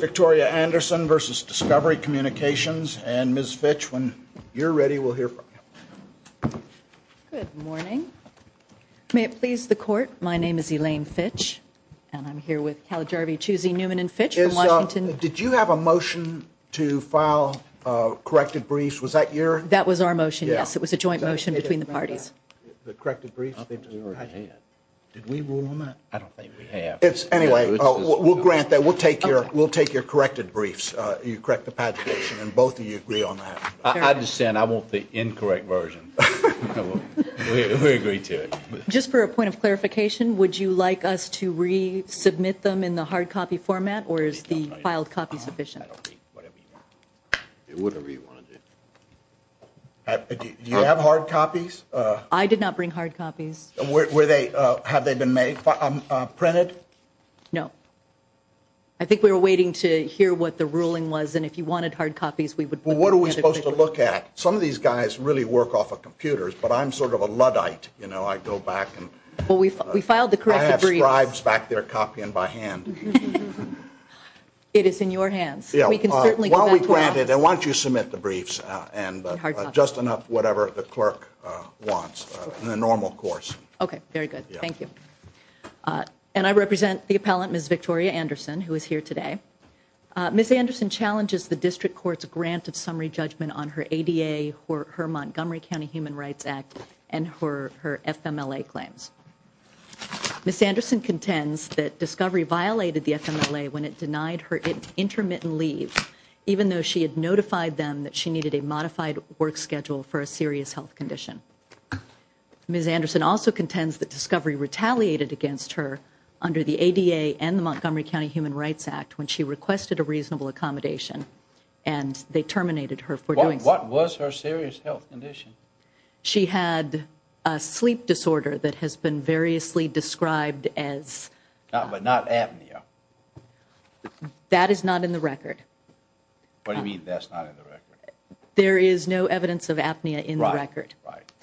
Victoria Anderson v. Discovery Communications, LLC You're ready, we'll hear from you. Good morning. May it please the court, my name is Elaine Fitch. And I'm here with Calgarvy, Chusey, Newman, and Fitch from Washington. Did you have a motion to file corrected briefs? Was that your? That was our motion, yes. It was a joint motion between the parties. The corrected briefs? Did we rule on that? I don't think we have. Anyway, we'll grant that. We'll take your corrected briefs. You correct the pagination and both of you agree on that. I'm just saying I want the incorrect version. We agree to it. Just for a point of clarification, would you like us to resubmit them in the hard copy format or is the filed copy sufficient? Do you have hard copies? I did not bring hard copies. Have they been made, printed? No. I think we were waiting to hear what the ruling was and if you wanted hard copies we would. Well, what are we supposed to look at? Some of these guys really work off of computers, but I'm sort of a Luddite. I go back and I have scribes back there copying by hand. It is in your hands. While we grant it, I want you to submit the briefs and just enough whatever the clerk wants in the normal course. Okay, very good. Thank you. And I represent the appellant, Ms. Victoria Anderson, who is here today. Ms. Anderson challenges the District Court's grant of summary judgment on her ADA, her Montgomery County Human Rights Act, and her FMLA claims. Ms. Anderson contends that Discovery violated the FMLA when it denied her intermittent leave, even though she had notified them that she needed a modified work schedule for a serious health condition. Ms. Anderson also contends that Discovery retaliated against her under the ADA and the Montgomery County Human Rights Act when she requested a reasonable accommodation and they terminated her for doing so. What was her serious health condition? She had a sleep disorder that has been variously described as... But not apnea. That is not in the record. What do you mean that's not in the record? There is no evidence of apnea in the record.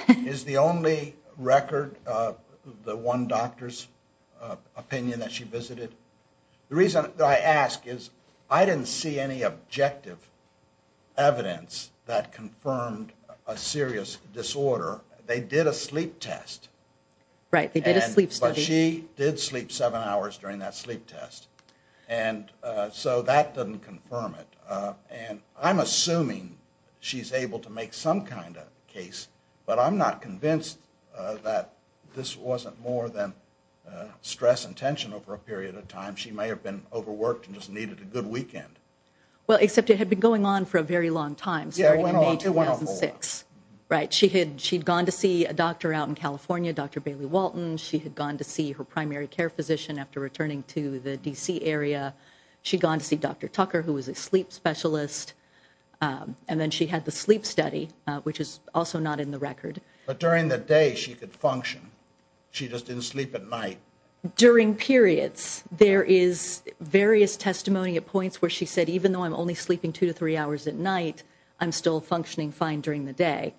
Is the only record the one doctor's opinion that she visited? The reason that I ask is I didn't see any objective evidence that confirmed a serious disorder. They did a sleep test. Right, they did a sleep study. But she did sleep seven hours during that sleep test. And so that doesn't confirm it. And I'm assuming she's able to make some kind of case, but I'm not convinced that this wasn't more than stress and tension over a period of time. She may have been overworked and just needed a good weekend. Well, except it had been going on for a very long time, starting in May 2006. Right, she had gone to see a doctor out in California, Dr. Bailey Walton. She had gone to see her primary care physician after returning to the D.C. area. She had gone to see Dr. Tucker, who was a sleep specialist. And then she had the sleep study, which is also not in the record. But during the day she could function. She just didn't sleep at night. During periods. There is various testimony at points where she said, even though I'm only sleeping two to three hours at night, I'm still functioning fine during the day.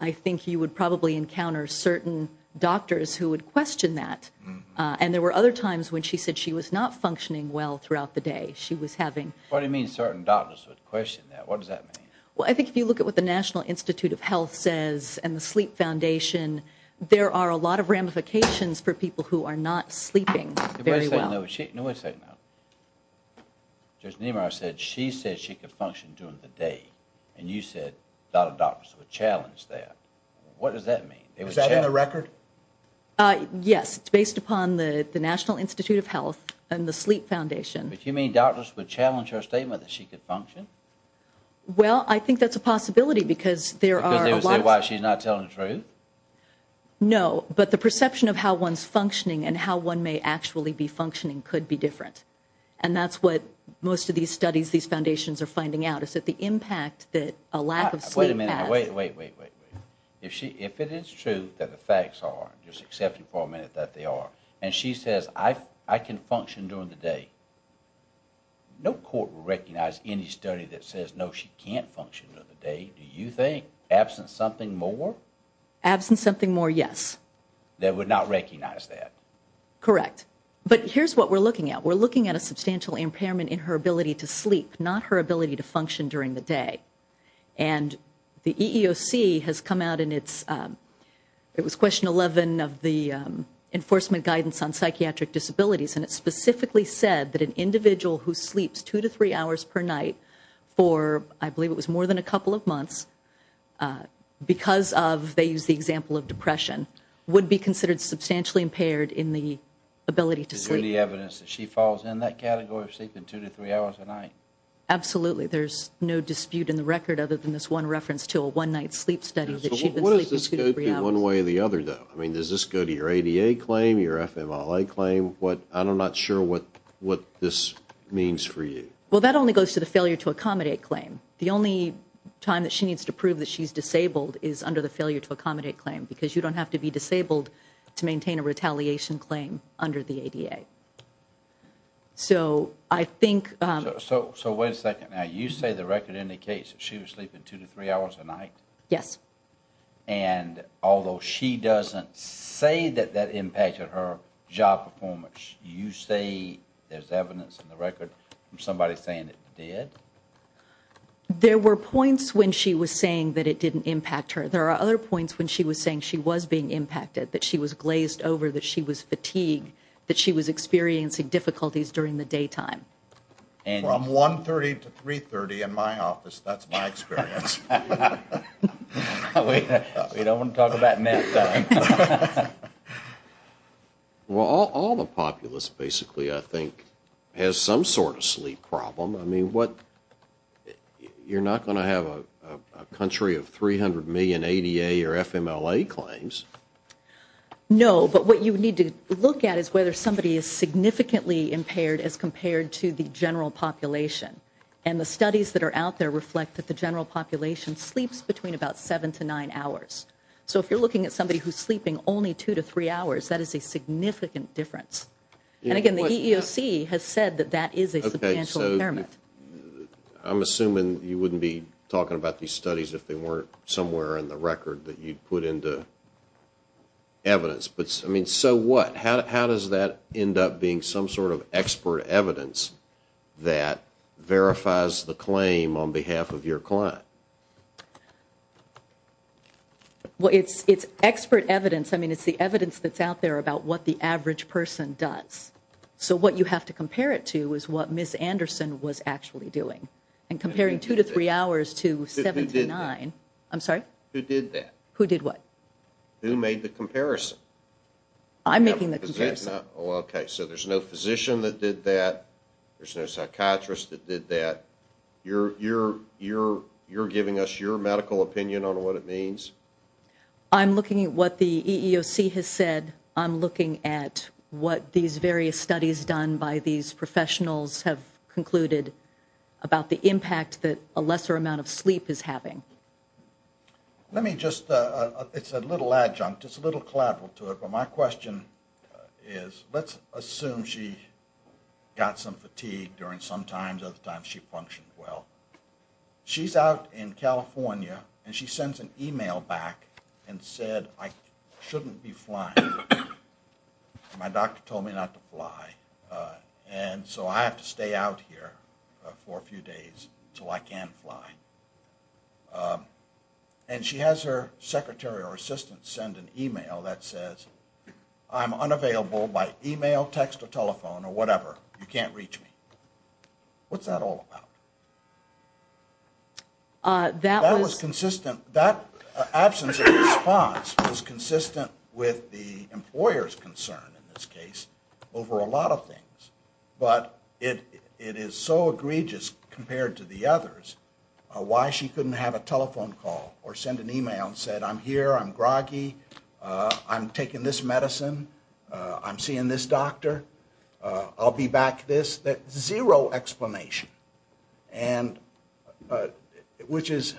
I think you would probably encounter certain doctors who would question that. And there were other times when she said she was not functioning well throughout the day. What do you mean certain doctors would question that? What does that mean? Well, I think if you look at what the National Institute of Health says and the Sleep Foundation, there are a lot of ramifications for people who are not sleeping very well. No, wait a second now. Judge Niemeyer said she said she could function during the day. And you said a lot of doctors would challenge that. What does that mean? Is that in the record? Yes. It's based upon the National Institute of Health and the Sleep Foundation. But you mean doctors would challenge her statement that she could function? Well, I think that's a possibility because there are a lot of... Because they would say, well, she's not telling the truth? No. But the perception of how one's functioning and how one may actually be functioning could be different. And that's what most of these studies, these foundations are finding out, is that the impact that a lack of sleep has... Wait a minute. Wait, wait, wait. If it is true that the facts are, just accepting for a minute that they are, and she says, I can function during the day, no court would recognize any study that says, no, she can't function during the day, do you think? Absent something more? Absent something more, yes. They would not recognize that? Correct. But here's what we're looking at. We're looking at a substantial impairment in her ability to sleep, not her ability to function during the day. And the EEOC has come out in its... It was question 11 of the Enforcement Guidance on Psychiatric Disabilities, and it specifically said that an individual who sleeps two to three hours per night for, I believe it was more than a couple of months, because of, they used the example of depression, would be considered substantially impaired in the ability to sleep. Is there any evidence that she falls in that category of sleeping two to three hours a night? Absolutely. There's no dispute in the record other than this one reference to a one-night sleep study that she's been sleeping two to three hours. What does this go to one way or the other, though? I mean, does this go to your ADA claim, your FMLA claim? I'm not sure what this means for you. Well, that only goes to the failure to accommodate claim. The only time that she needs to prove that she's disabled is under the failure to accommodate claim, So I think... So wait a second. Now, you say the record indicates that she was sleeping two to three hours a night? Yes. And although she doesn't say that that impacted her job performance, you say there's evidence in the record from somebody saying it did? There were points when she was saying that it didn't impact her. There are other points when she was saying she was being impacted, that she was glazed over, that she was fatigued, that she was experiencing difficulties during the daytime. From 1.30 to 3.30 in my office, that's my experience. We don't want to talk about nap time. Well, all the populace basically, I think, has some sort of sleep problem. I mean, you're not going to have a country of 300 million ADA or FMLA claims. No, but what you need to look at is whether somebody is significantly impaired as compared to the general population. And the studies that are out there reflect that the general population sleeps between about seven to nine hours. So if you're looking at somebody who's sleeping only two to three hours, that is a significant difference. And again, the EEOC has said that that is a substantial impairment. I'm assuming you wouldn't be talking about these studies if they weren't somewhere in the record that you'd put into evidence. I mean, so what? How does that end up being some sort of expert evidence that verifies the claim on behalf of your client? Well, it's expert evidence. I mean, it's the evidence that's out there about what the average person does. So what you have to compare it to is what Ms. Anderson was actually doing. And comparing two to three hours to seven to nine. Who did that? I'm sorry? Who did that? Who did what? Who made the comparison? I'm making the comparison. Okay, so there's no physician that did that. There's no psychiatrist that did that. You're giving us your medical opinion on what it means? I'm looking at what the EEOC has said. I'm looking at what these various studies done by these professionals have concluded about the impact that a lesser amount of sleep is having. Let me just, it's a little adjunct, it's a little collateral to it, but my question is let's assume she got some fatigue during some times of the time she functioned well. She's out in California and she sends an e-mail back and said, I shouldn't be flying. My doctor told me not to fly. And so I have to stay out here for a few days until I can fly. And she has her secretary or assistant send an e-mail that says, I'm unavailable by e-mail, text, or telephone, or whatever. You can't reach me. What's that all about? That was consistent. That absence of response was consistent with the employer's concern, in this case, over a lot of things. But it is so egregious compared to the others, why she couldn't have a telephone call or send an e-mail and said, I'm here, I'm groggy, I'm taking this medicine, I'm seeing this doctor, I'll be back, this, that. Zero explanation, which is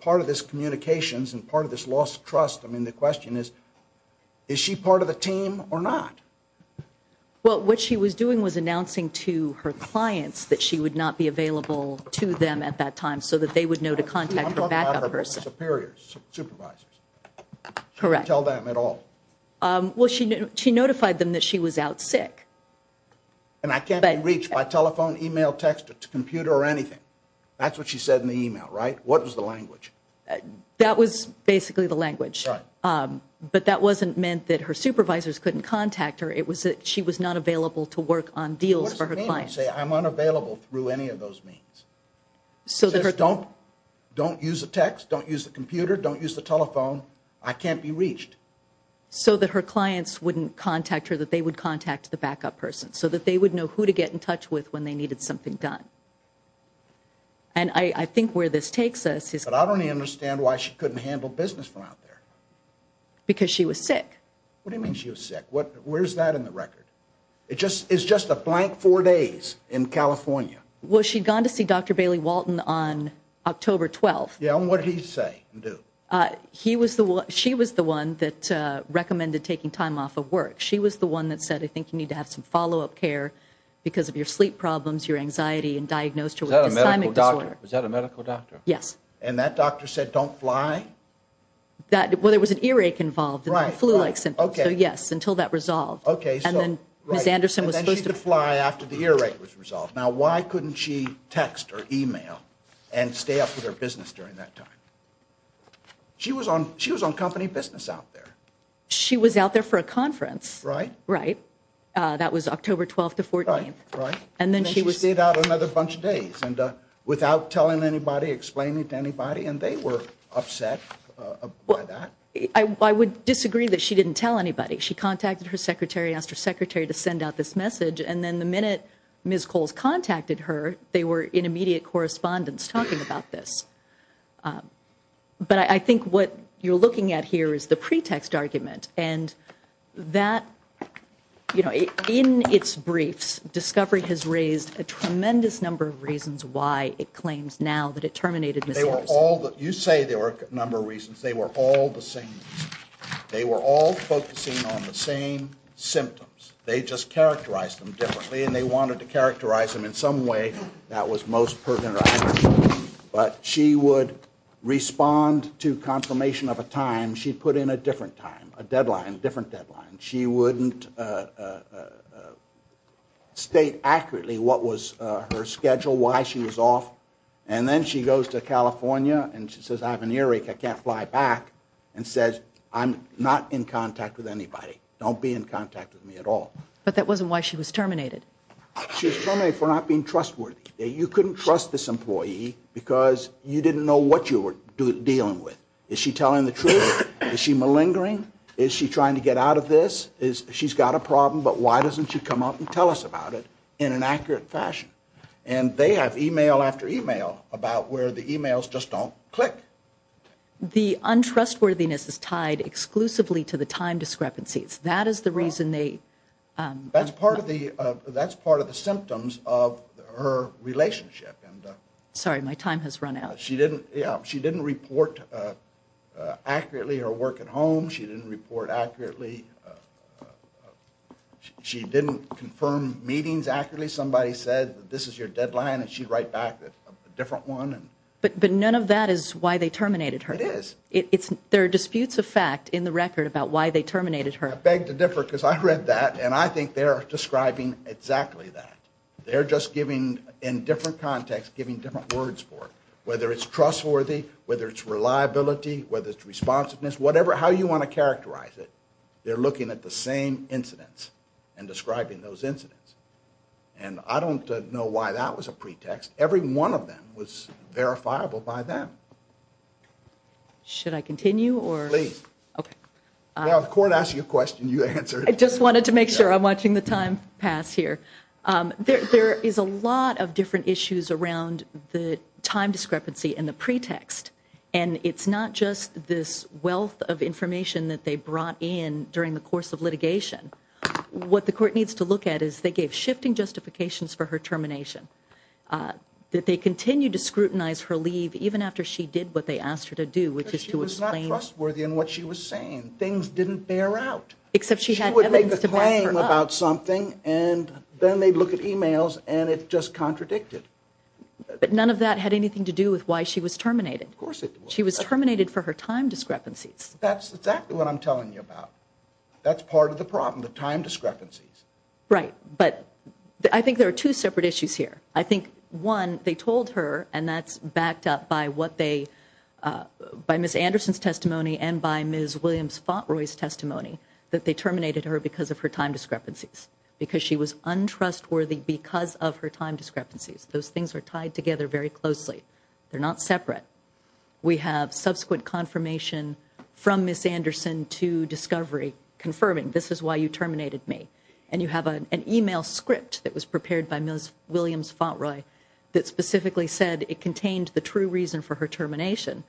part of this communications and part of this lost trust. I mean, the question is, is she part of the team or not? Well, what she was doing was announcing to her clients that she would not be available to them at that time so that they would know to contact a backup person. I'm talking about her superiors, supervisors. Correct. She didn't tell them at all. Well, she notified them that she was out sick. And I can't be reached by telephone, e-mail, text, computer, or anything. That's what she said in the e-mail, right? What was the language? That was basically the language. But that wasn't meant that her supervisors couldn't contact her. It was that she was not available to work on deals for her clients. What does it mean when you say, I'm unavailable through any of those means? Just don't use the text, don't use the computer, don't use the telephone. I can't be reached. So that her clients wouldn't contact her, that they would contact the backup person, so that they would know who to get in touch with when they needed something done. And I think where this takes us is... But I don't understand why she couldn't handle business from out there. Because she was sick. What do you mean she was sick? Where's that in the record? It's just a blank four days in California. Well, she'd gone to see Dr. Bailey Walton on October 12th. Yeah, and what did he say and do? He was the one, she was the one that recommended taking time off of work. She was the one that said, I think you need to have some follow-up care because of your sleep problems, your anxiety, and diagnosed with a dysthymic disorder. Was that a medical doctor? Yes. And that doctor said, don't fly? Well, there was an earache involved, a flu-like symptom. So yes, until that resolved. And then Ms. Anderson was supposed to... And then she could fly after the earache was resolved. Now, why couldn't she text or e-mail and stay off of her business during that time? She was on company business out there. She was out there for a conference. Right. Right. That was October 12th to 14th. Right, right. And then she stayed out another bunch of days without telling anybody, explaining to anybody, and they were upset by that. I would disagree that she didn't tell anybody. She contacted her secretary, asked her secretary to send out this message, and then the minute Ms. Coles contacted her, they were in immediate correspondence talking about this. But I think what you're looking at here is the pretext argument. And that, you know, in its briefs, Discovery has raised a tremendous number of reasons why it claims now that it terminated Ms. Anderson. You say there were a number of reasons. They were all the same reasons. They were all focusing on the same symptoms. They just characterized them differently, and they wanted to characterize them in some way that was most pertinent to Anderson. But she would respond to confirmation of a time. She'd put in a different time, a deadline, a different deadline. She wouldn't state accurately what was her schedule, why she was off. And then she goes to California and she says, I have an earache, I can't fly back, and says, I'm not in contact with anybody. Don't be in contact with me at all. But that wasn't why she was terminated. She was terminated for not being trustworthy. You couldn't trust this employee because you didn't know what you were dealing with. Is she telling the truth? Is she malingering? Is she trying to get out of this? She's got a problem, but why doesn't she come up and tell us about it in an accurate fashion? And they have email after email about where the emails just don't click. The untrustworthiness is tied exclusively to the time discrepancies. That is the reason they- That's part of the symptoms of her relationship. Sorry, my time has run out. She didn't report accurately her work at home. She didn't report accurately. She didn't confirm meetings accurately. Somebody said, this is your deadline, and she'd write back a different one. But none of that is why they terminated her. It is. There are disputes of fact in the record about why they terminated her. I beg to differ because I read that, and I think they're describing exactly that. They're just giving, in different contexts, giving different words for it, whether it's trustworthy, whether it's reliability, whether it's responsiveness, whatever, how you want to characterize it. They're looking at the same incidents and describing those incidents. And I don't know why that was a pretext. Every one of them was verifiable by them. Should I continue or- Please. Okay. Now, if the court asks you a question, you answer it. I just wanted to make sure. I'm watching the time pass here. There is a lot of different issues around the time discrepancy and the pretext. And it's not just this wealth of information that they brought in during the course of litigation. What the court needs to look at is they gave shifting justifications for her termination. That they continue to scrutinize her leave even after she did what they asked her to do, which is to explain- Because she was not trustworthy in what she was saying. Things didn't bear out. Except she had evidence to back her up. She would make a claim about something, and then they'd look at e-mails, and it just contradicted. But none of that had anything to do with why she was terminated. Of course it did. She was terminated for her time discrepancies. That's exactly what I'm telling you about. That's part of the problem, the time discrepancies. Right. But I think there are two separate issues here. I think, one, they told her, and that's backed up by what they- by Ms. Anderson's testimony and by Ms. Williams-Fontroy's testimony, that they terminated her because of her time discrepancies. Because she was untrustworthy because of her time discrepancies. Those things are tied together very closely. They're not separate. We have subsequent confirmation from Ms. Anderson to Discovery confirming, this is why you terminated me. And you have an e-mail script that was prepared by Ms. Williams-Fontroy that specifically said it contained the true reason for her termination.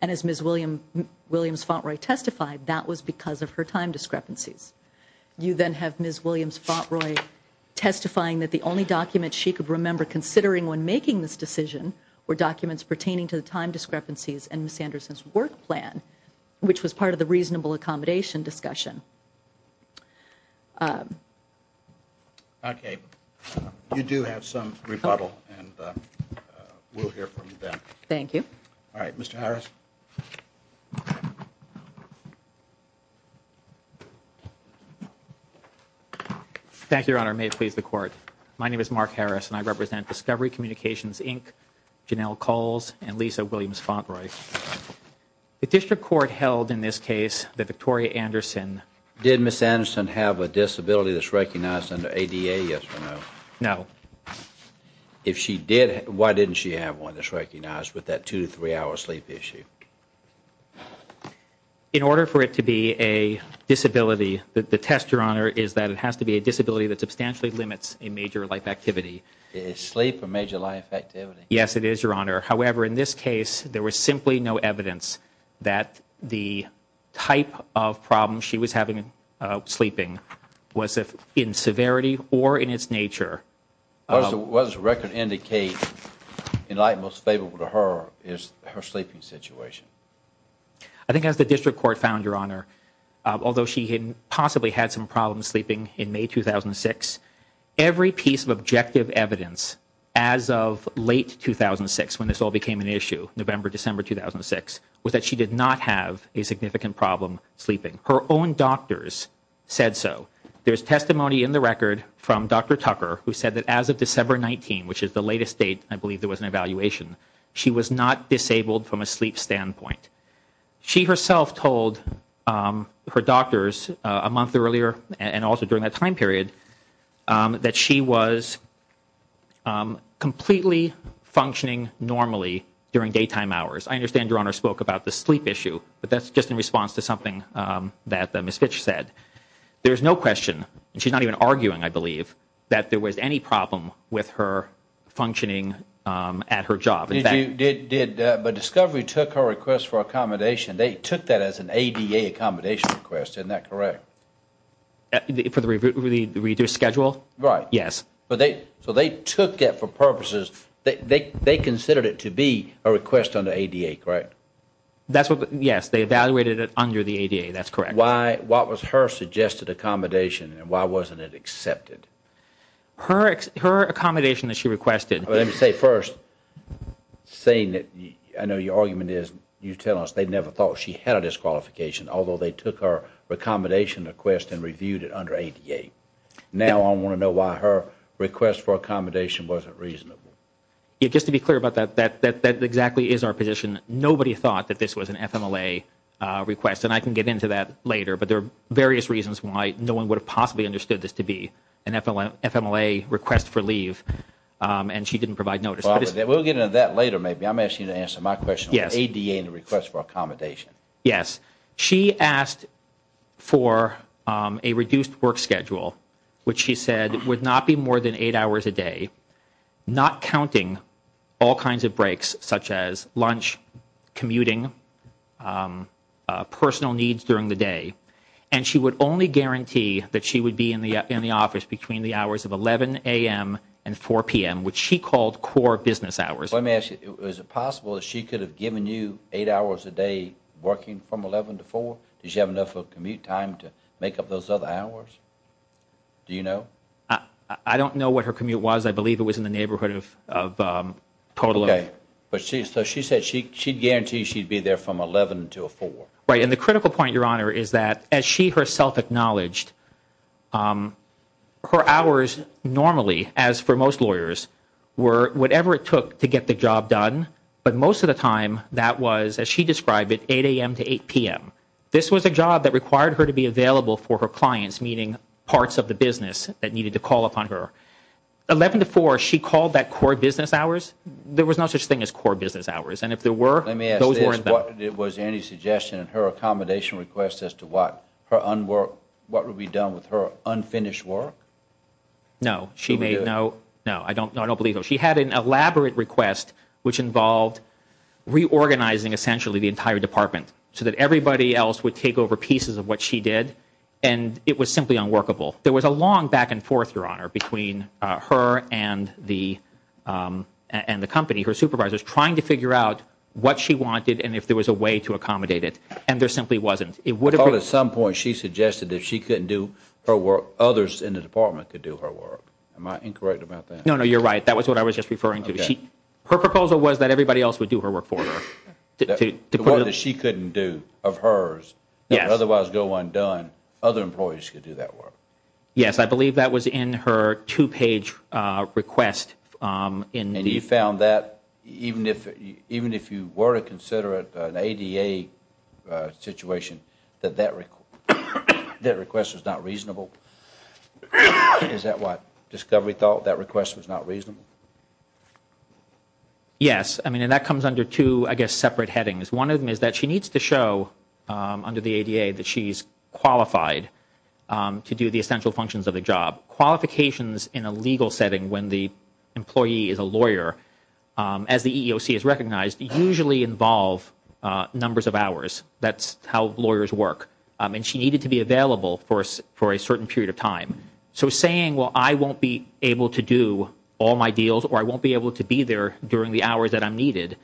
And as Ms. Williams-Fontroy testified, that was because of her time discrepancies. You then have Ms. Williams-Fontroy testifying that the only documents she could remember considering when making this decision were documents pertaining to the time discrepancies and Ms. Anderson's work plan, which was part of the reasonable accommodation discussion. Okay. You do have some rebuttal, and we'll hear from you then. Thank you. All right. Mr. Harris. Thank you, Your Honor. May it please the Court. My name is Mark Harris, and I represent Discovery Communications, Inc., and Lisa Williams-Fontroy. The District Court held in this case that Victoria Anderson Did Ms. Anderson have a disability that's recognized under ADA, yes or no? No. If she did, why didn't she have one that's recognized with that two- to three-hour sleep issue? In order for it to be a disability, the test, Your Honor, is that it has to be a disability that substantially limits a major life activity. Is sleep a major life activity? Yes, it is, Your Honor. However, in this case, there was simply no evidence that the type of problems she was having sleeping was in severity or in its nature. What does the record indicate in light most favorable to her is her sleeping situation? I think as the District Court found, Your Honor, although she had possibly had some problems sleeping in May 2006, every piece of objective evidence as of late 2006, when this all became an issue, November, December 2006, was that she did not have a significant problem sleeping. Her own doctors said so. There's testimony in the record from Dr. Tucker who said that as of December 19, which is the latest date, I believe there was an evaluation, she was not disabled from a sleep standpoint. She herself told her doctors a month earlier and also during that time period that she was completely functioning normally during daytime hours. I understand Your Honor spoke about the sleep issue, but that's just in response to something that Ms. Fitch said. There's no question, and she's not even arguing, I believe, that there was any problem with her functioning at her job. But Discovery took her request for accommodation, they took that as an ADA accommodation request, isn't that correct? For the reduced schedule? Right. Yes. So they took it for purposes, they considered it to be a request under ADA, correct? Yes, they evaluated it under the ADA, that's correct. Why was her suggested accommodation and why wasn't it accepted? Her accommodation that she requested- Let me say first, saying that I know your argument is you tell us they never thought she had a disqualification, although they took her accommodation request and reviewed it under ADA. Now I want to know why her request for accommodation wasn't reasonable. Just to be clear about that, that exactly is our position. Nobody thought that this was an FMLA request, and I can get into that later, but there are various reasons why no one would have possibly understood this to be an FMLA request for leave, and she didn't provide notice. We'll get into that later, maybe. I'm asking you to answer my question on ADA and the request for accommodation. Yes. She asked for a reduced work schedule, which she said would not be more than eight hours a day, not counting all kinds of breaks, such as lunch, commuting, personal needs during the day, and she would only guarantee that she would be in the office between the hours of 11 a.m. and 4 p.m., which she called core business hours. Let me ask you, is it possible that she could have given you eight hours a day working from 11 to 4? Did she have enough of a commute time to make up those other hours? Do you know? I don't know what her commute was. I believe it was in the neighborhood of total. Okay. So she said she'd guarantee she'd be there from 11 to 4. Right, and the critical point, Your Honor, is that as she herself acknowledged, her hours normally, as for most lawyers, were whatever it took to get the job done, but most of the time that was, as she described it, 8 a.m. to 8 p.m. This was a job that required her to be available for her clients, meaning parts of the business that needed to call upon her. 11 to 4, she called that core business hours. There was no such thing as core business hours, and if there were, those weren't that. Let me ask this. Was there any suggestion in her accommodation request as to what would be done with her unfinished work? No. No, I don't believe so. She had an elaborate request, which involved reorganizing, essentially, the entire department so that everybody else would take over pieces of what she did, and it was simply unworkable. There was a long back and forth, Your Honor, between her and the company, her supervisors, trying to figure out what she wanted and if there was a way to accommodate it, and there simply wasn't. Well, at some point she suggested that if she couldn't do her work, others in the department could do her work. Am I incorrect about that? No, no, you're right. That was what I was just referring to. Her proposal was that everybody else would do her work for her. The work that she couldn't do of hers that would otherwise go undone, other employees could do that work. Yes, I believe that was in her two-page request. And you found that, even if you were to consider it an ADA situation, that that request was not reasonable? Is that what Discovery thought, that request was not reasonable? Yes, and that comes under two, I guess, separate headings. One of them is that she needs to show, under the ADA, that she's qualified to do the essential functions of the job. Qualifications in a legal setting when the employee is a lawyer, as the EEOC has recognized, usually involve numbers of hours. That's how lawyers work. And she needed to be available for a certain period of time. So saying, well, I won't be able to do all my deals or I won't be able to be there during the hours that I'm needed,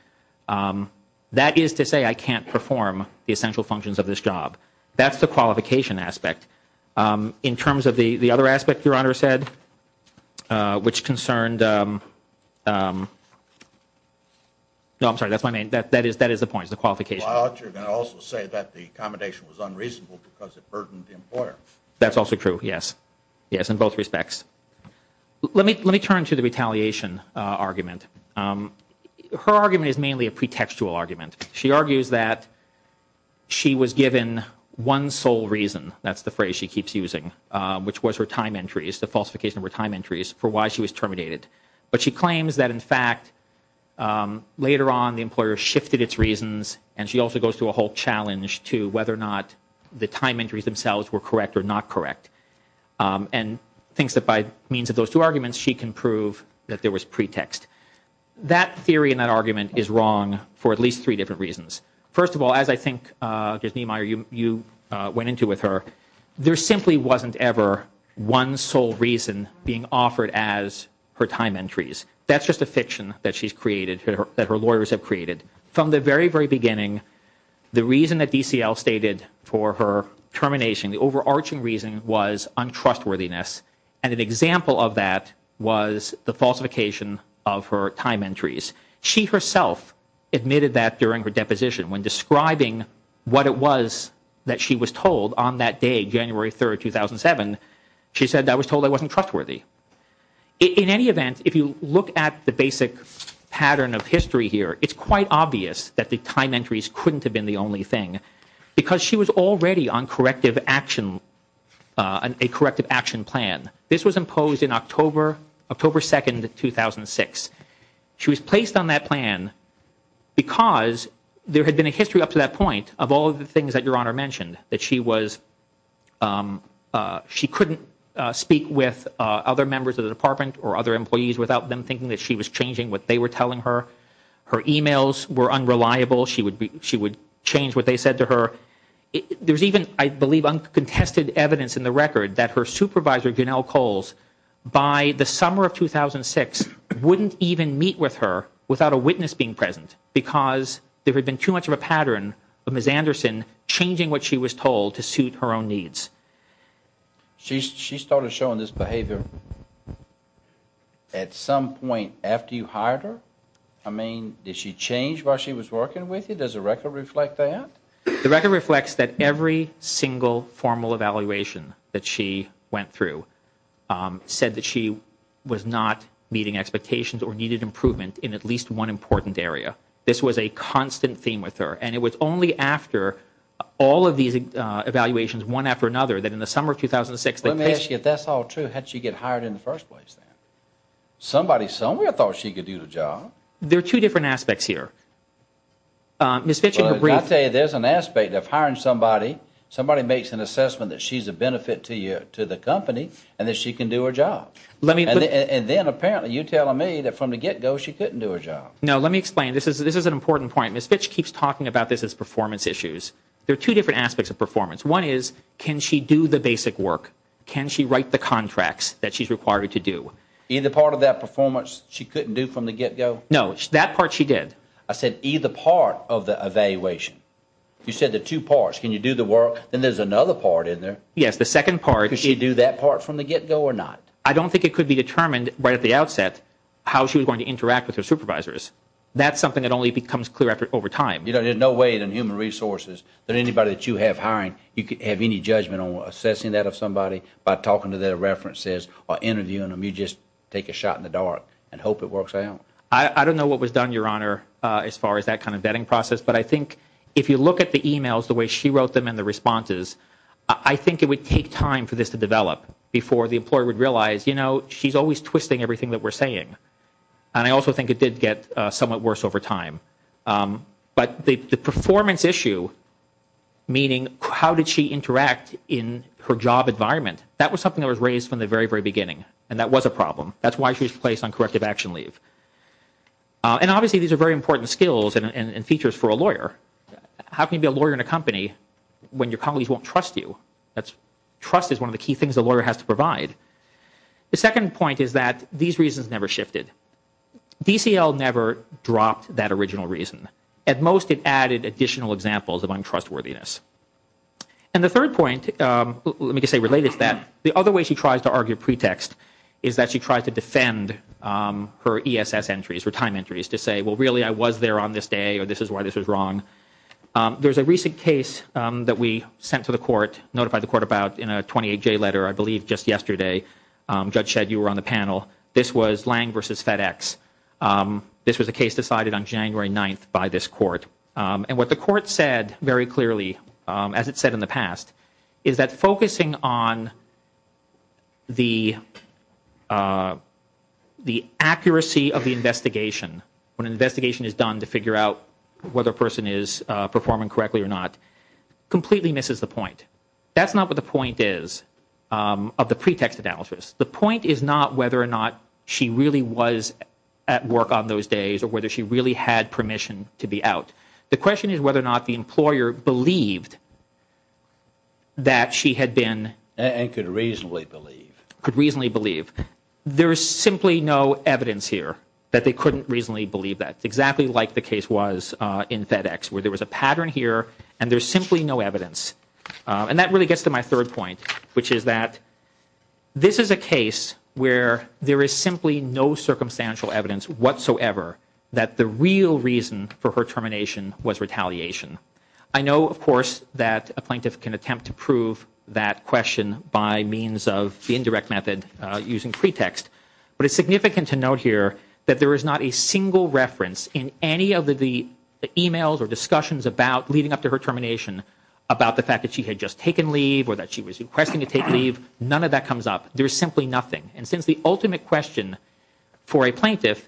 that is to say I can't perform the essential functions of this job. That's the qualification aspect. In terms of the other aspect, Your Honor said, which concerned – no, I'm sorry, that's my main – that is the point, is the qualification. Well, I thought you were going to also say that the accommodation was unreasonable because it burdened the employer. That's also true, yes. Yes, in both respects. Let me turn to the retaliation argument. Her argument is mainly a pretextual argument. She argues that she was given one sole reason, that's the phrase she keeps using, which was her time entries, the falsification of her time entries, for why she was terminated. But she claims that, in fact, later on the employer shifted its reasons and she also goes through a whole challenge to whether or not the time entries themselves were correct or not correct, and thinks that by means of those two arguments she can prove that there was pretext. That theory and that argument is wrong for at least three different reasons. First of all, as I think, Judge Niemeyer, you went into with her, there simply wasn't ever one sole reason being offered as her time entries. That's just a fiction that she's created, that her lawyers have created. From the very, very beginning, the reason that DCL stated for her termination, the overarching reason was untrustworthiness, and an example of that was the falsification of her time entries. She herself admitted that during her deposition. When describing what it was that she was told on that day, January 3, 2007, she said, I was told I wasn't trustworthy. In any event, if you look at the basic pattern of history here, it's quite obvious that the time entries couldn't have been the only thing, because she was already on a corrective action plan. This was imposed in October 2, 2006. She was placed on that plan because there had been a history up to that point of all of the things that Your Honor mentioned, that she couldn't speak with other members of the department or other employees without them thinking that she was changing what they were telling her, her e-mails were unreliable, she would change what they said to her. There's even, I believe, uncontested evidence in the record that her supervisor, Janelle Coles, by the summer of 2006, wouldn't even meet with her without a witness being present, because there had been too much of a pattern of Ms. Anderson changing what she was told to suit her own needs. She started showing this behavior at some point after you hired her? I mean, did she change while she was working with you? Does the record reflect that? The record reflects that every single formal evaluation that she went through said that she was not meeting expectations or needed improvement in at least one important area. This was a constant theme with her, and it was only after all of these evaluations, one after another, that in the summer of 2006... Let me ask you, if that's all true, how did she get hired in the first place then? Somebody somewhere thought she could do the job. There are two different aspects here. Ms. Fitch, in her brief... I'll tell you, there's an aspect of hiring somebody, somebody makes an assessment that she's a benefit to the company and that she can do her job. And then, apparently, you're telling me that from the get-go she couldn't do her job. No, let me explain. This is an important point. Ms. Fitch keeps talking about this as performance issues. There are two different aspects of performance. One is, can she do the basic work? Can she write the contracts that she's required to do? Either part of that performance she couldn't do from the get-go? No, that part she did. I said either part of the evaluation. You said the two parts. Can you do the work? Then there's another part in there. Yes, the second part... Could she do that part from the get-go or not? I don't think it could be determined right at the outset how she was going to interact with her supervisors. That's something that only becomes clear over time. There's no way in human resources that anybody that you have hiring, you could have any judgment on assessing that of somebody by talking to their references or interviewing them. You just take a shot in the dark and hope it works out. I don't know what was done, Your Honor, as far as that kind of vetting process, but I think if you look at the e-mails, the way she wrote them and the responses, I think it would take time for this to develop before the employer would realize, you know, she's always twisting everything that we're saying. And I also think it did get somewhat worse over time. But the performance issue, meaning how did she interact in her job environment, that was something that was raised from the very, very beginning, and that was a problem. That's why she was placed on corrective action leave. And obviously these are very important skills and features for a lawyer. How can you be a lawyer in a company when your colleagues won't trust you? Trust is one of the key things a lawyer has to provide. The second point is that these reasons never shifted. DCL never dropped that original reason. At most, it added additional examples of untrustworthiness. And the third point, let me just say related to that, the other way she tries to argue pretext is that she tries to defend her ESS entries, her time entries, to say, well, really, I was there on this day, or this is why this was wrong. There's a recent case that we sent to the court, notified the court about in a 28-J letter, I believe just yesterday. Judge said you were on the panel. This was Lange v. FedEx. This was a case decided on January 9th by this court. And what the court said very clearly, as it said in the past, is that focusing on the accuracy of the investigation, when an investigation is done to figure out whether a person is performing correctly or not, completely misses the point. That's not what the point is of the pretext analysis. The point is not whether or not she really was at work on those days or whether she really had permission to be out. The question is whether or not the employer believed that she had been. And could reasonably believe. Could reasonably believe. There is simply no evidence here that they couldn't reasonably believe that, exactly like the case was in FedEx, where there was a pattern here, and there's simply no evidence. And that really gets to my third point, which is that this is a case where there is simply no circumstantial evidence whatsoever that the real reason for her termination was retaliation. I know, of course, that a plaintiff can attempt to prove that question by means of the indirect method using pretext. But it's significant to note here that there is not a single reference in any of the emails or discussions about leading up to her termination about the fact that she had just taken leave or that she was requesting to take leave. None of that comes up. There's simply nothing. And since the ultimate question for a plaintiff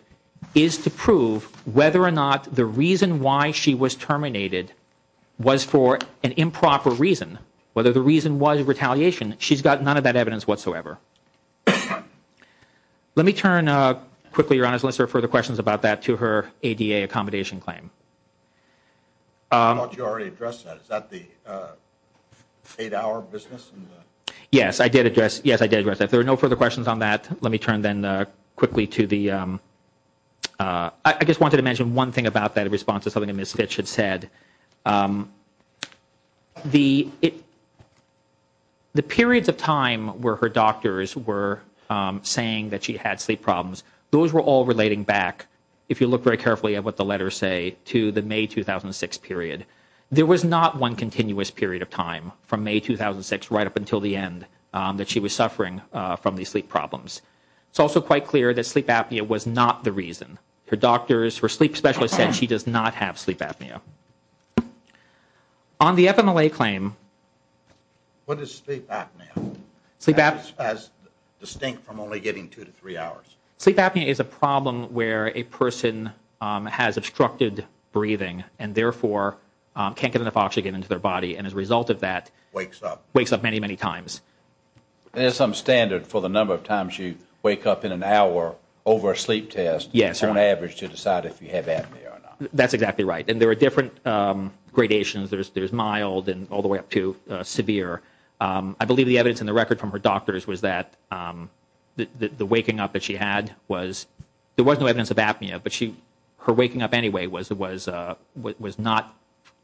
is to prove whether or not the reason why she was terminated was for an improper reason, whether the reason was retaliation, she's got none of that evidence whatsoever. Let me turn quickly, Your Honor, unless there are further questions about that, to her ADA accommodation claim. I thought you already addressed that. Is that the eight-hour business? Yes, I did address that. If there are no further questions on that, let me turn then quickly to the – I just wanted to mention one thing about that in response to something that Ms. Fitch had said. The periods of time where her doctors were saying that she had sleep problems, those were all relating back, if you look very carefully at what the letters say, to the May 2006 period. There was not one continuous period of time from May 2006 right up until the end that she was suffering from these sleep problems. It's also quite clear that sleep apnea was not the reason. Her doctors, her sleep specialist said she does not have sleep apnea. On the FMLA claim – What is sleep apnea? Sleep apnea – As distinct from only getting two to three hours. Sleep apnea is a problem where a person has obstructed breathing and therefore can't get enough oxygen into their body, and as a result of that – Wakes up. Wakes up many, many times. There's some standard for the number of times you wake up in an hour over a sleep test. Yes. On average to decide if you have apnea or not. That's exactly right, and there are different gradations. There's mild and all the way up to severe. I believe the evidence in the record from her doctors was that the waking up that she had was – there was no evidence of apnea, but her waking up anyway was not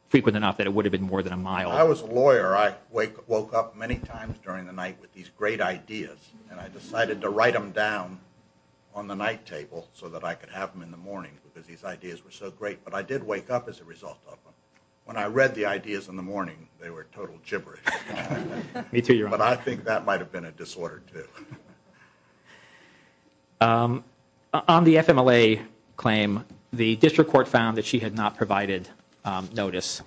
frequent enough that it would have been more than a mile. I was a lawyer. I woke up many times during the night with these great ideas, and I decided to write them down on the night table so that I could have them in the morning because these ideas were so great, but I did wake up as a result of them. When I read the ideas in the morning, they were total gibberish. But I think that might have been a disorder too. On the FMLA claim, the district court found that she had not provided notice,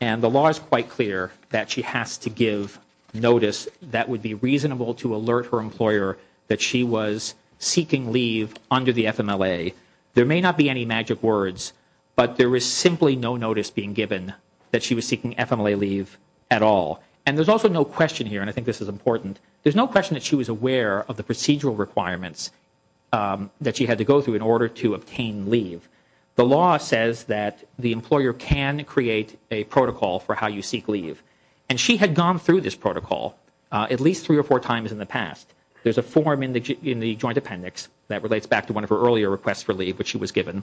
and the law is quite clear that she has to give notice that would be reasonable to alert her employer that she was seeking leave under the FMLA. There may not be any magic words, but there is simply no notice being given that she was seeking FMLA leave at all, and there's also no question here, and I think this is important. There's no question that she was aware of the procedural requirements that she had to go through in order to obtain leave. The law says that the employer can create a protocol for how you seek leave, and she had gone through this protocol at least three or four times in the past. There's a form in the joint appendix that relates back to one of her earlier requests for leave, which she was given.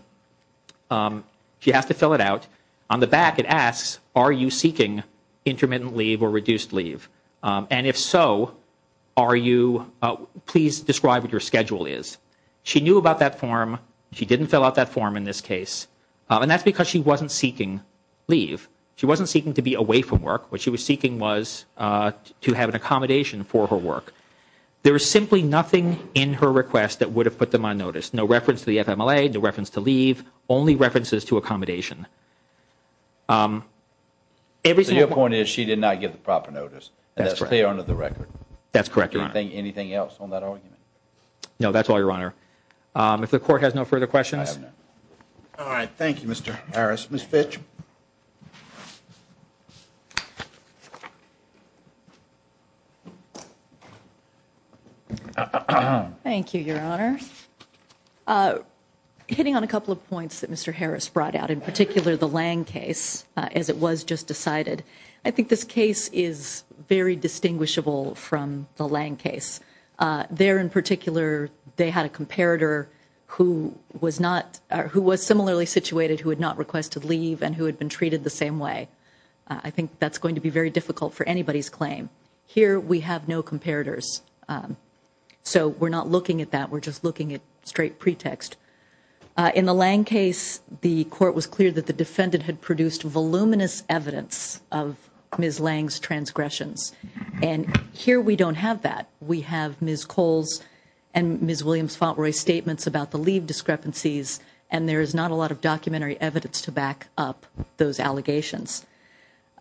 She has to fill it out. On the back, it asks, are you seeking intermittent leave or reduced leave, and if so, please describe what your schedule is. She knew about that form. She didn't fill out that form in this case, and that's because she wasn't seeking leave. She wasn't seeking to be away from work. What she was seeking was to have an accommodation for her work. There was simply nothing in her request that would have put them on notice, no reference to the FMLA, no reference to leave, only references to accommodation. Your point is she did not give the proper notice, and that's clear under the record. That's correct, Your Honor. Anything else on that argument? No, that's all, Your Honor. If the Court has no further questions. All right, thank you, Mr. Harris. Ms. Fitch. Thank you, Your Honor. Hitting on a couple of points that Mr. Harris brought out, in particular the Lange case, as it was just decided, I think this case is very distinguishable from the Lange case. There, in particular, they had a comparator who was similarly situated, who had not requested leave, and who had been treated the same way. I think that's going to be very difficult for anybody's claim. Here, we have no comparators, so we're not looking at that. We're just looking at straight pretext. In the Lange case, the Court was clear that the defendant had produced voluminous evidence of Ms. Lange's transgressions, and here we don't have that. We have Ms. Cole's and Ms. Williams-Fontroy's statements about the leave discrepancies, and there is not a lot of documentary evidence to back up those allegations.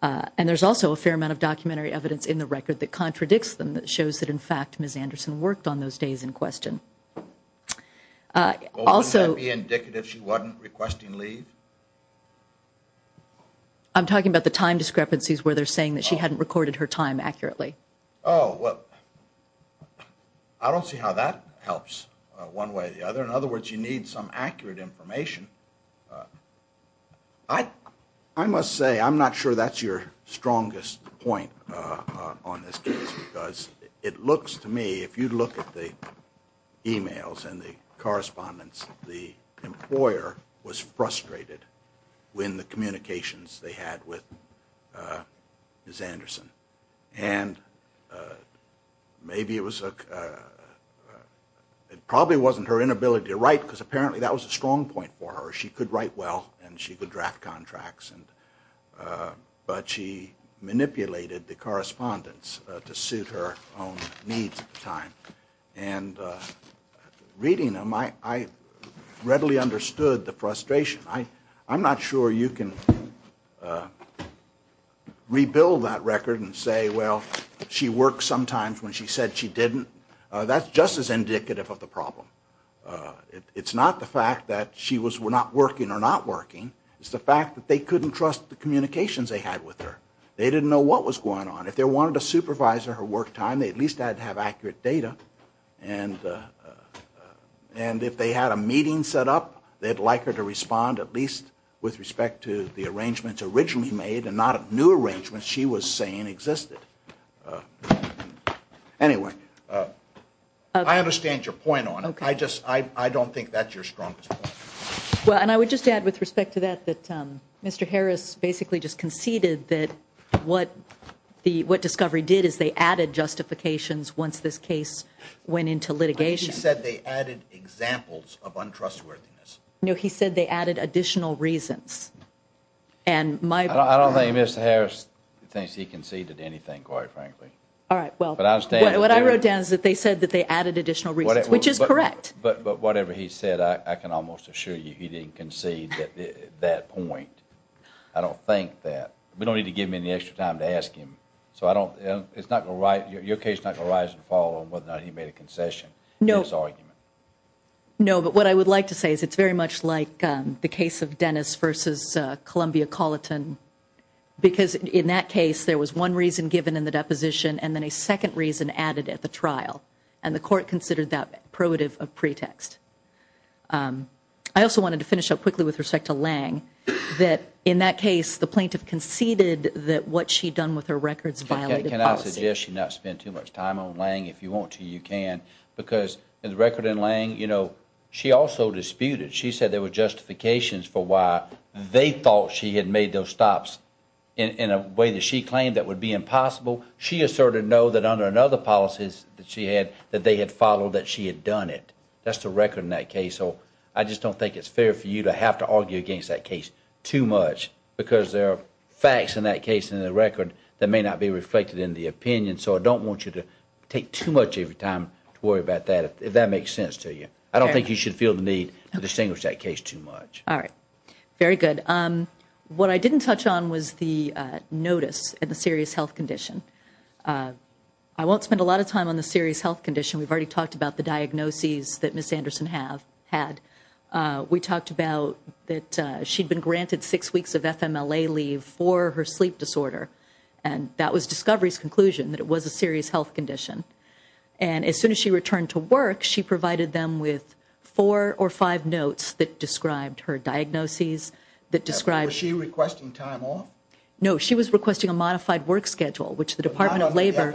And there's also a fair amount of documentary evidence in the record that contradicts them, that shows that, in fact, Ms. Anderson worked on those days in question. Wouldn't that be indicative she wasn't requesting leave? I'm talking about the time discrepancies where they're saying that she hadn't recorded her time accurately. Oh, well, I don't see how that helps one way or the other. In other words, you need some accurate information. I must say I'm not sure that's your strongest point on this case, because it looks to me, if you look at the e-mails and the correspondence, the employer was frustrated when the communications they had with Ms. Anderson. And maybe it probably wasn't her inability to write, because apparently that was a strong point for her. She could write well, and she could draft contracts, but she manipulated the correspondence to suit her own needs at the time. And reading them, I readily understood the frustration. I'm not sure you can rebuild that record and say, well, she worked sometimes when she said she didn't. That's just as indicative of the problem. It's not the fact that she was not working or not working. It's the fact that they couldn't trust the communications they had with her. They didn't know what was going on. If they wanted to supervise her work time, they at least had to have accurate data. And if they had a meeting set up, they'd like her to respond at least with respect to the arrangements originally made and not new arrangements she was saying existed. Anyway, I understand your point on it. I just don't think that's your strongest point. Well, and I would just add with respect to that that Mr. Harris basically just conceded that what Discovery did is they added justifications once this case went into litigation. He said they added examples of untrustworthiness. No, he said they added additional reasons. I don't think Mr. Harris thinks he conceded anything, quite frankly. All right, well, what I wrote down is that they said that they added additional reasons, which is correct. But whatever he said, I can almost assure you he didn't concede at that point. I don't think that. We don't need to give him any extra time to ask him. Your case is not going to rise and fall on whether or not he made a concession in his argument. No, but what I would like to say is it's very much like the case of Dennis v. Columbia Colleton because in that case there was one reason given in the deposition and then a second reason added at the trial, and the court considered that provative of pretext. I also wanted to finish up quickly with respect to Lange, that in that case the plaintiff conceded that what she'd done with her records violated policy. Can I suggest you not spend too much time on Lange? If you want to, you can. Because the record in Lange, you know, she also disputed. She said there were justifications for why they thought she had made those stops in a way that she claimed that would be impossible. She asserted, no, that under another policy that she had, that they had followed that she had done it. That's the record in that case. So I just don't think it's fair for you to have to argue against that case too much because there are facts in that case and in the record that may not be reflected in the opinion. So I don't want you to take too much of your time to worry about that if that makes sense to you. I don't think you should feel the need to distinguish that case too much. All right. Very good. What I didn't touch on was the notice of the serious health condition. I won't spend a lot of time on the serious health condition. We've already talked about the diagnoses that Ms. Anderson had. We talked about that she'd been granted six weeks of FMLA leave for her sleep disorder. And that was Discovery's conclusion, that it was a serious health condition. And as soon as she returned to work, she provided them with four or five notes that described her diagnoses, that described- Was she requesting time off? No, she was requesting a modified work schedule, which the Department of Labor-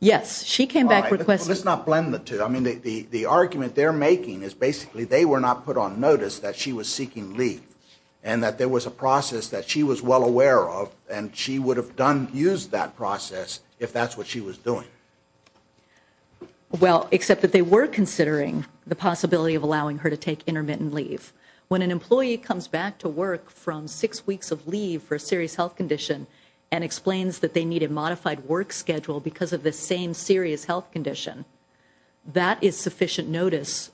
Yes. She came back requesting- All right. Well, let's not blend the two. I mean, the argument they're making is basically they were not put on notice that she was seeking leave and that there was a process that she was well aware of and she would have used that process if that's what she was doing. Well, except that they were considering the possibility of allowing her to take intermittent leave. When an employee comes back to work from six weeks of leave for a serious health condition and explains that they need a modified work schedule because of the same serious health condition, that is sufficient notice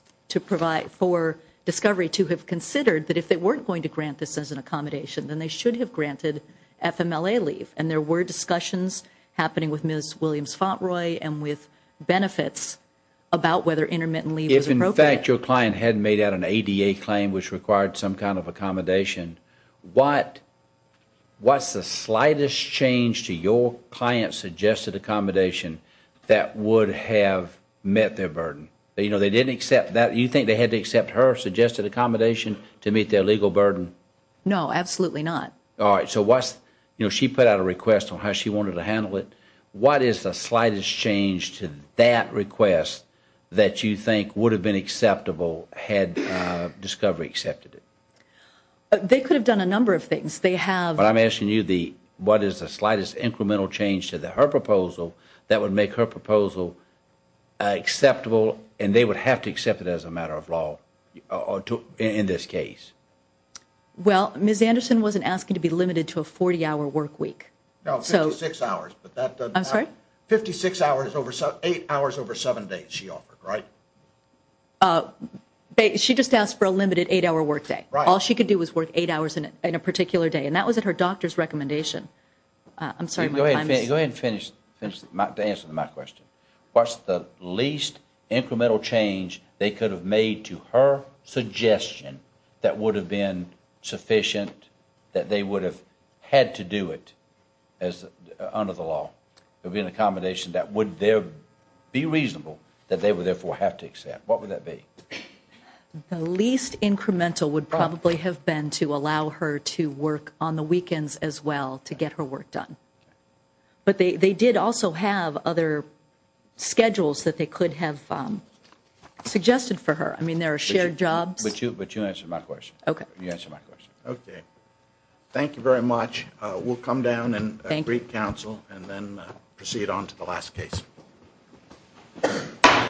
for Discovery to have considered that if they weren't going to grant this as an accommodation, then they should have granted FMLA leave. And there were discussions happening with Ms. Williams-Fontroy and with benefits about whether intermittent leave was appropriate. If, in fact, your client had made out an ADA claim which required some kind of accommodation, what's the slightest change to your client's suggested accommodation that would have met their burden? You know, they didn't accept that. You think they had to accept her suggested accommodation to meet their legal burden? No, absolutely not. All right. So what's-you know, she put out a request on how she wanted to handle it. What is the slightest change to that request that you think would have been acceptable had Discovery accepted it? They could have done a number of things. They have- But I'm asking you what is the slightest incremental change to her proposal that would make her proposal acceptable and they would have to accept it as a matter of law in this case? Well, Ms. Anderson wasn't asking to be limited to a 40-hour work week. No, 56 hours, but that doesn't- I'm sorry? Fifty-six hours over-eight hours over seven days she offered, right? She just asked for a limited eight-hour work day. Right. All she could do was work eight hours in a particular day, and that was at her doctor's recommendation. I'm sorry, my time is- Go ahead and finish to answer my question. What's the least incremental change they could have made to her suggestion that would have been sufficient, that they would have had to do it under the law? There would be an accommodation that would be reasonable that they would therefore have to accept. What would that be? The least incremental would probably have been to allow her to work on the weekends as well to get her work done. But they did also have other schedules that they could have suggested for her. I mean, there are shared jobs- But you answered my question. Okay. You answered my question. Okay. Thank you very much. We'll come down and brief counsel and then proceed on to the last case.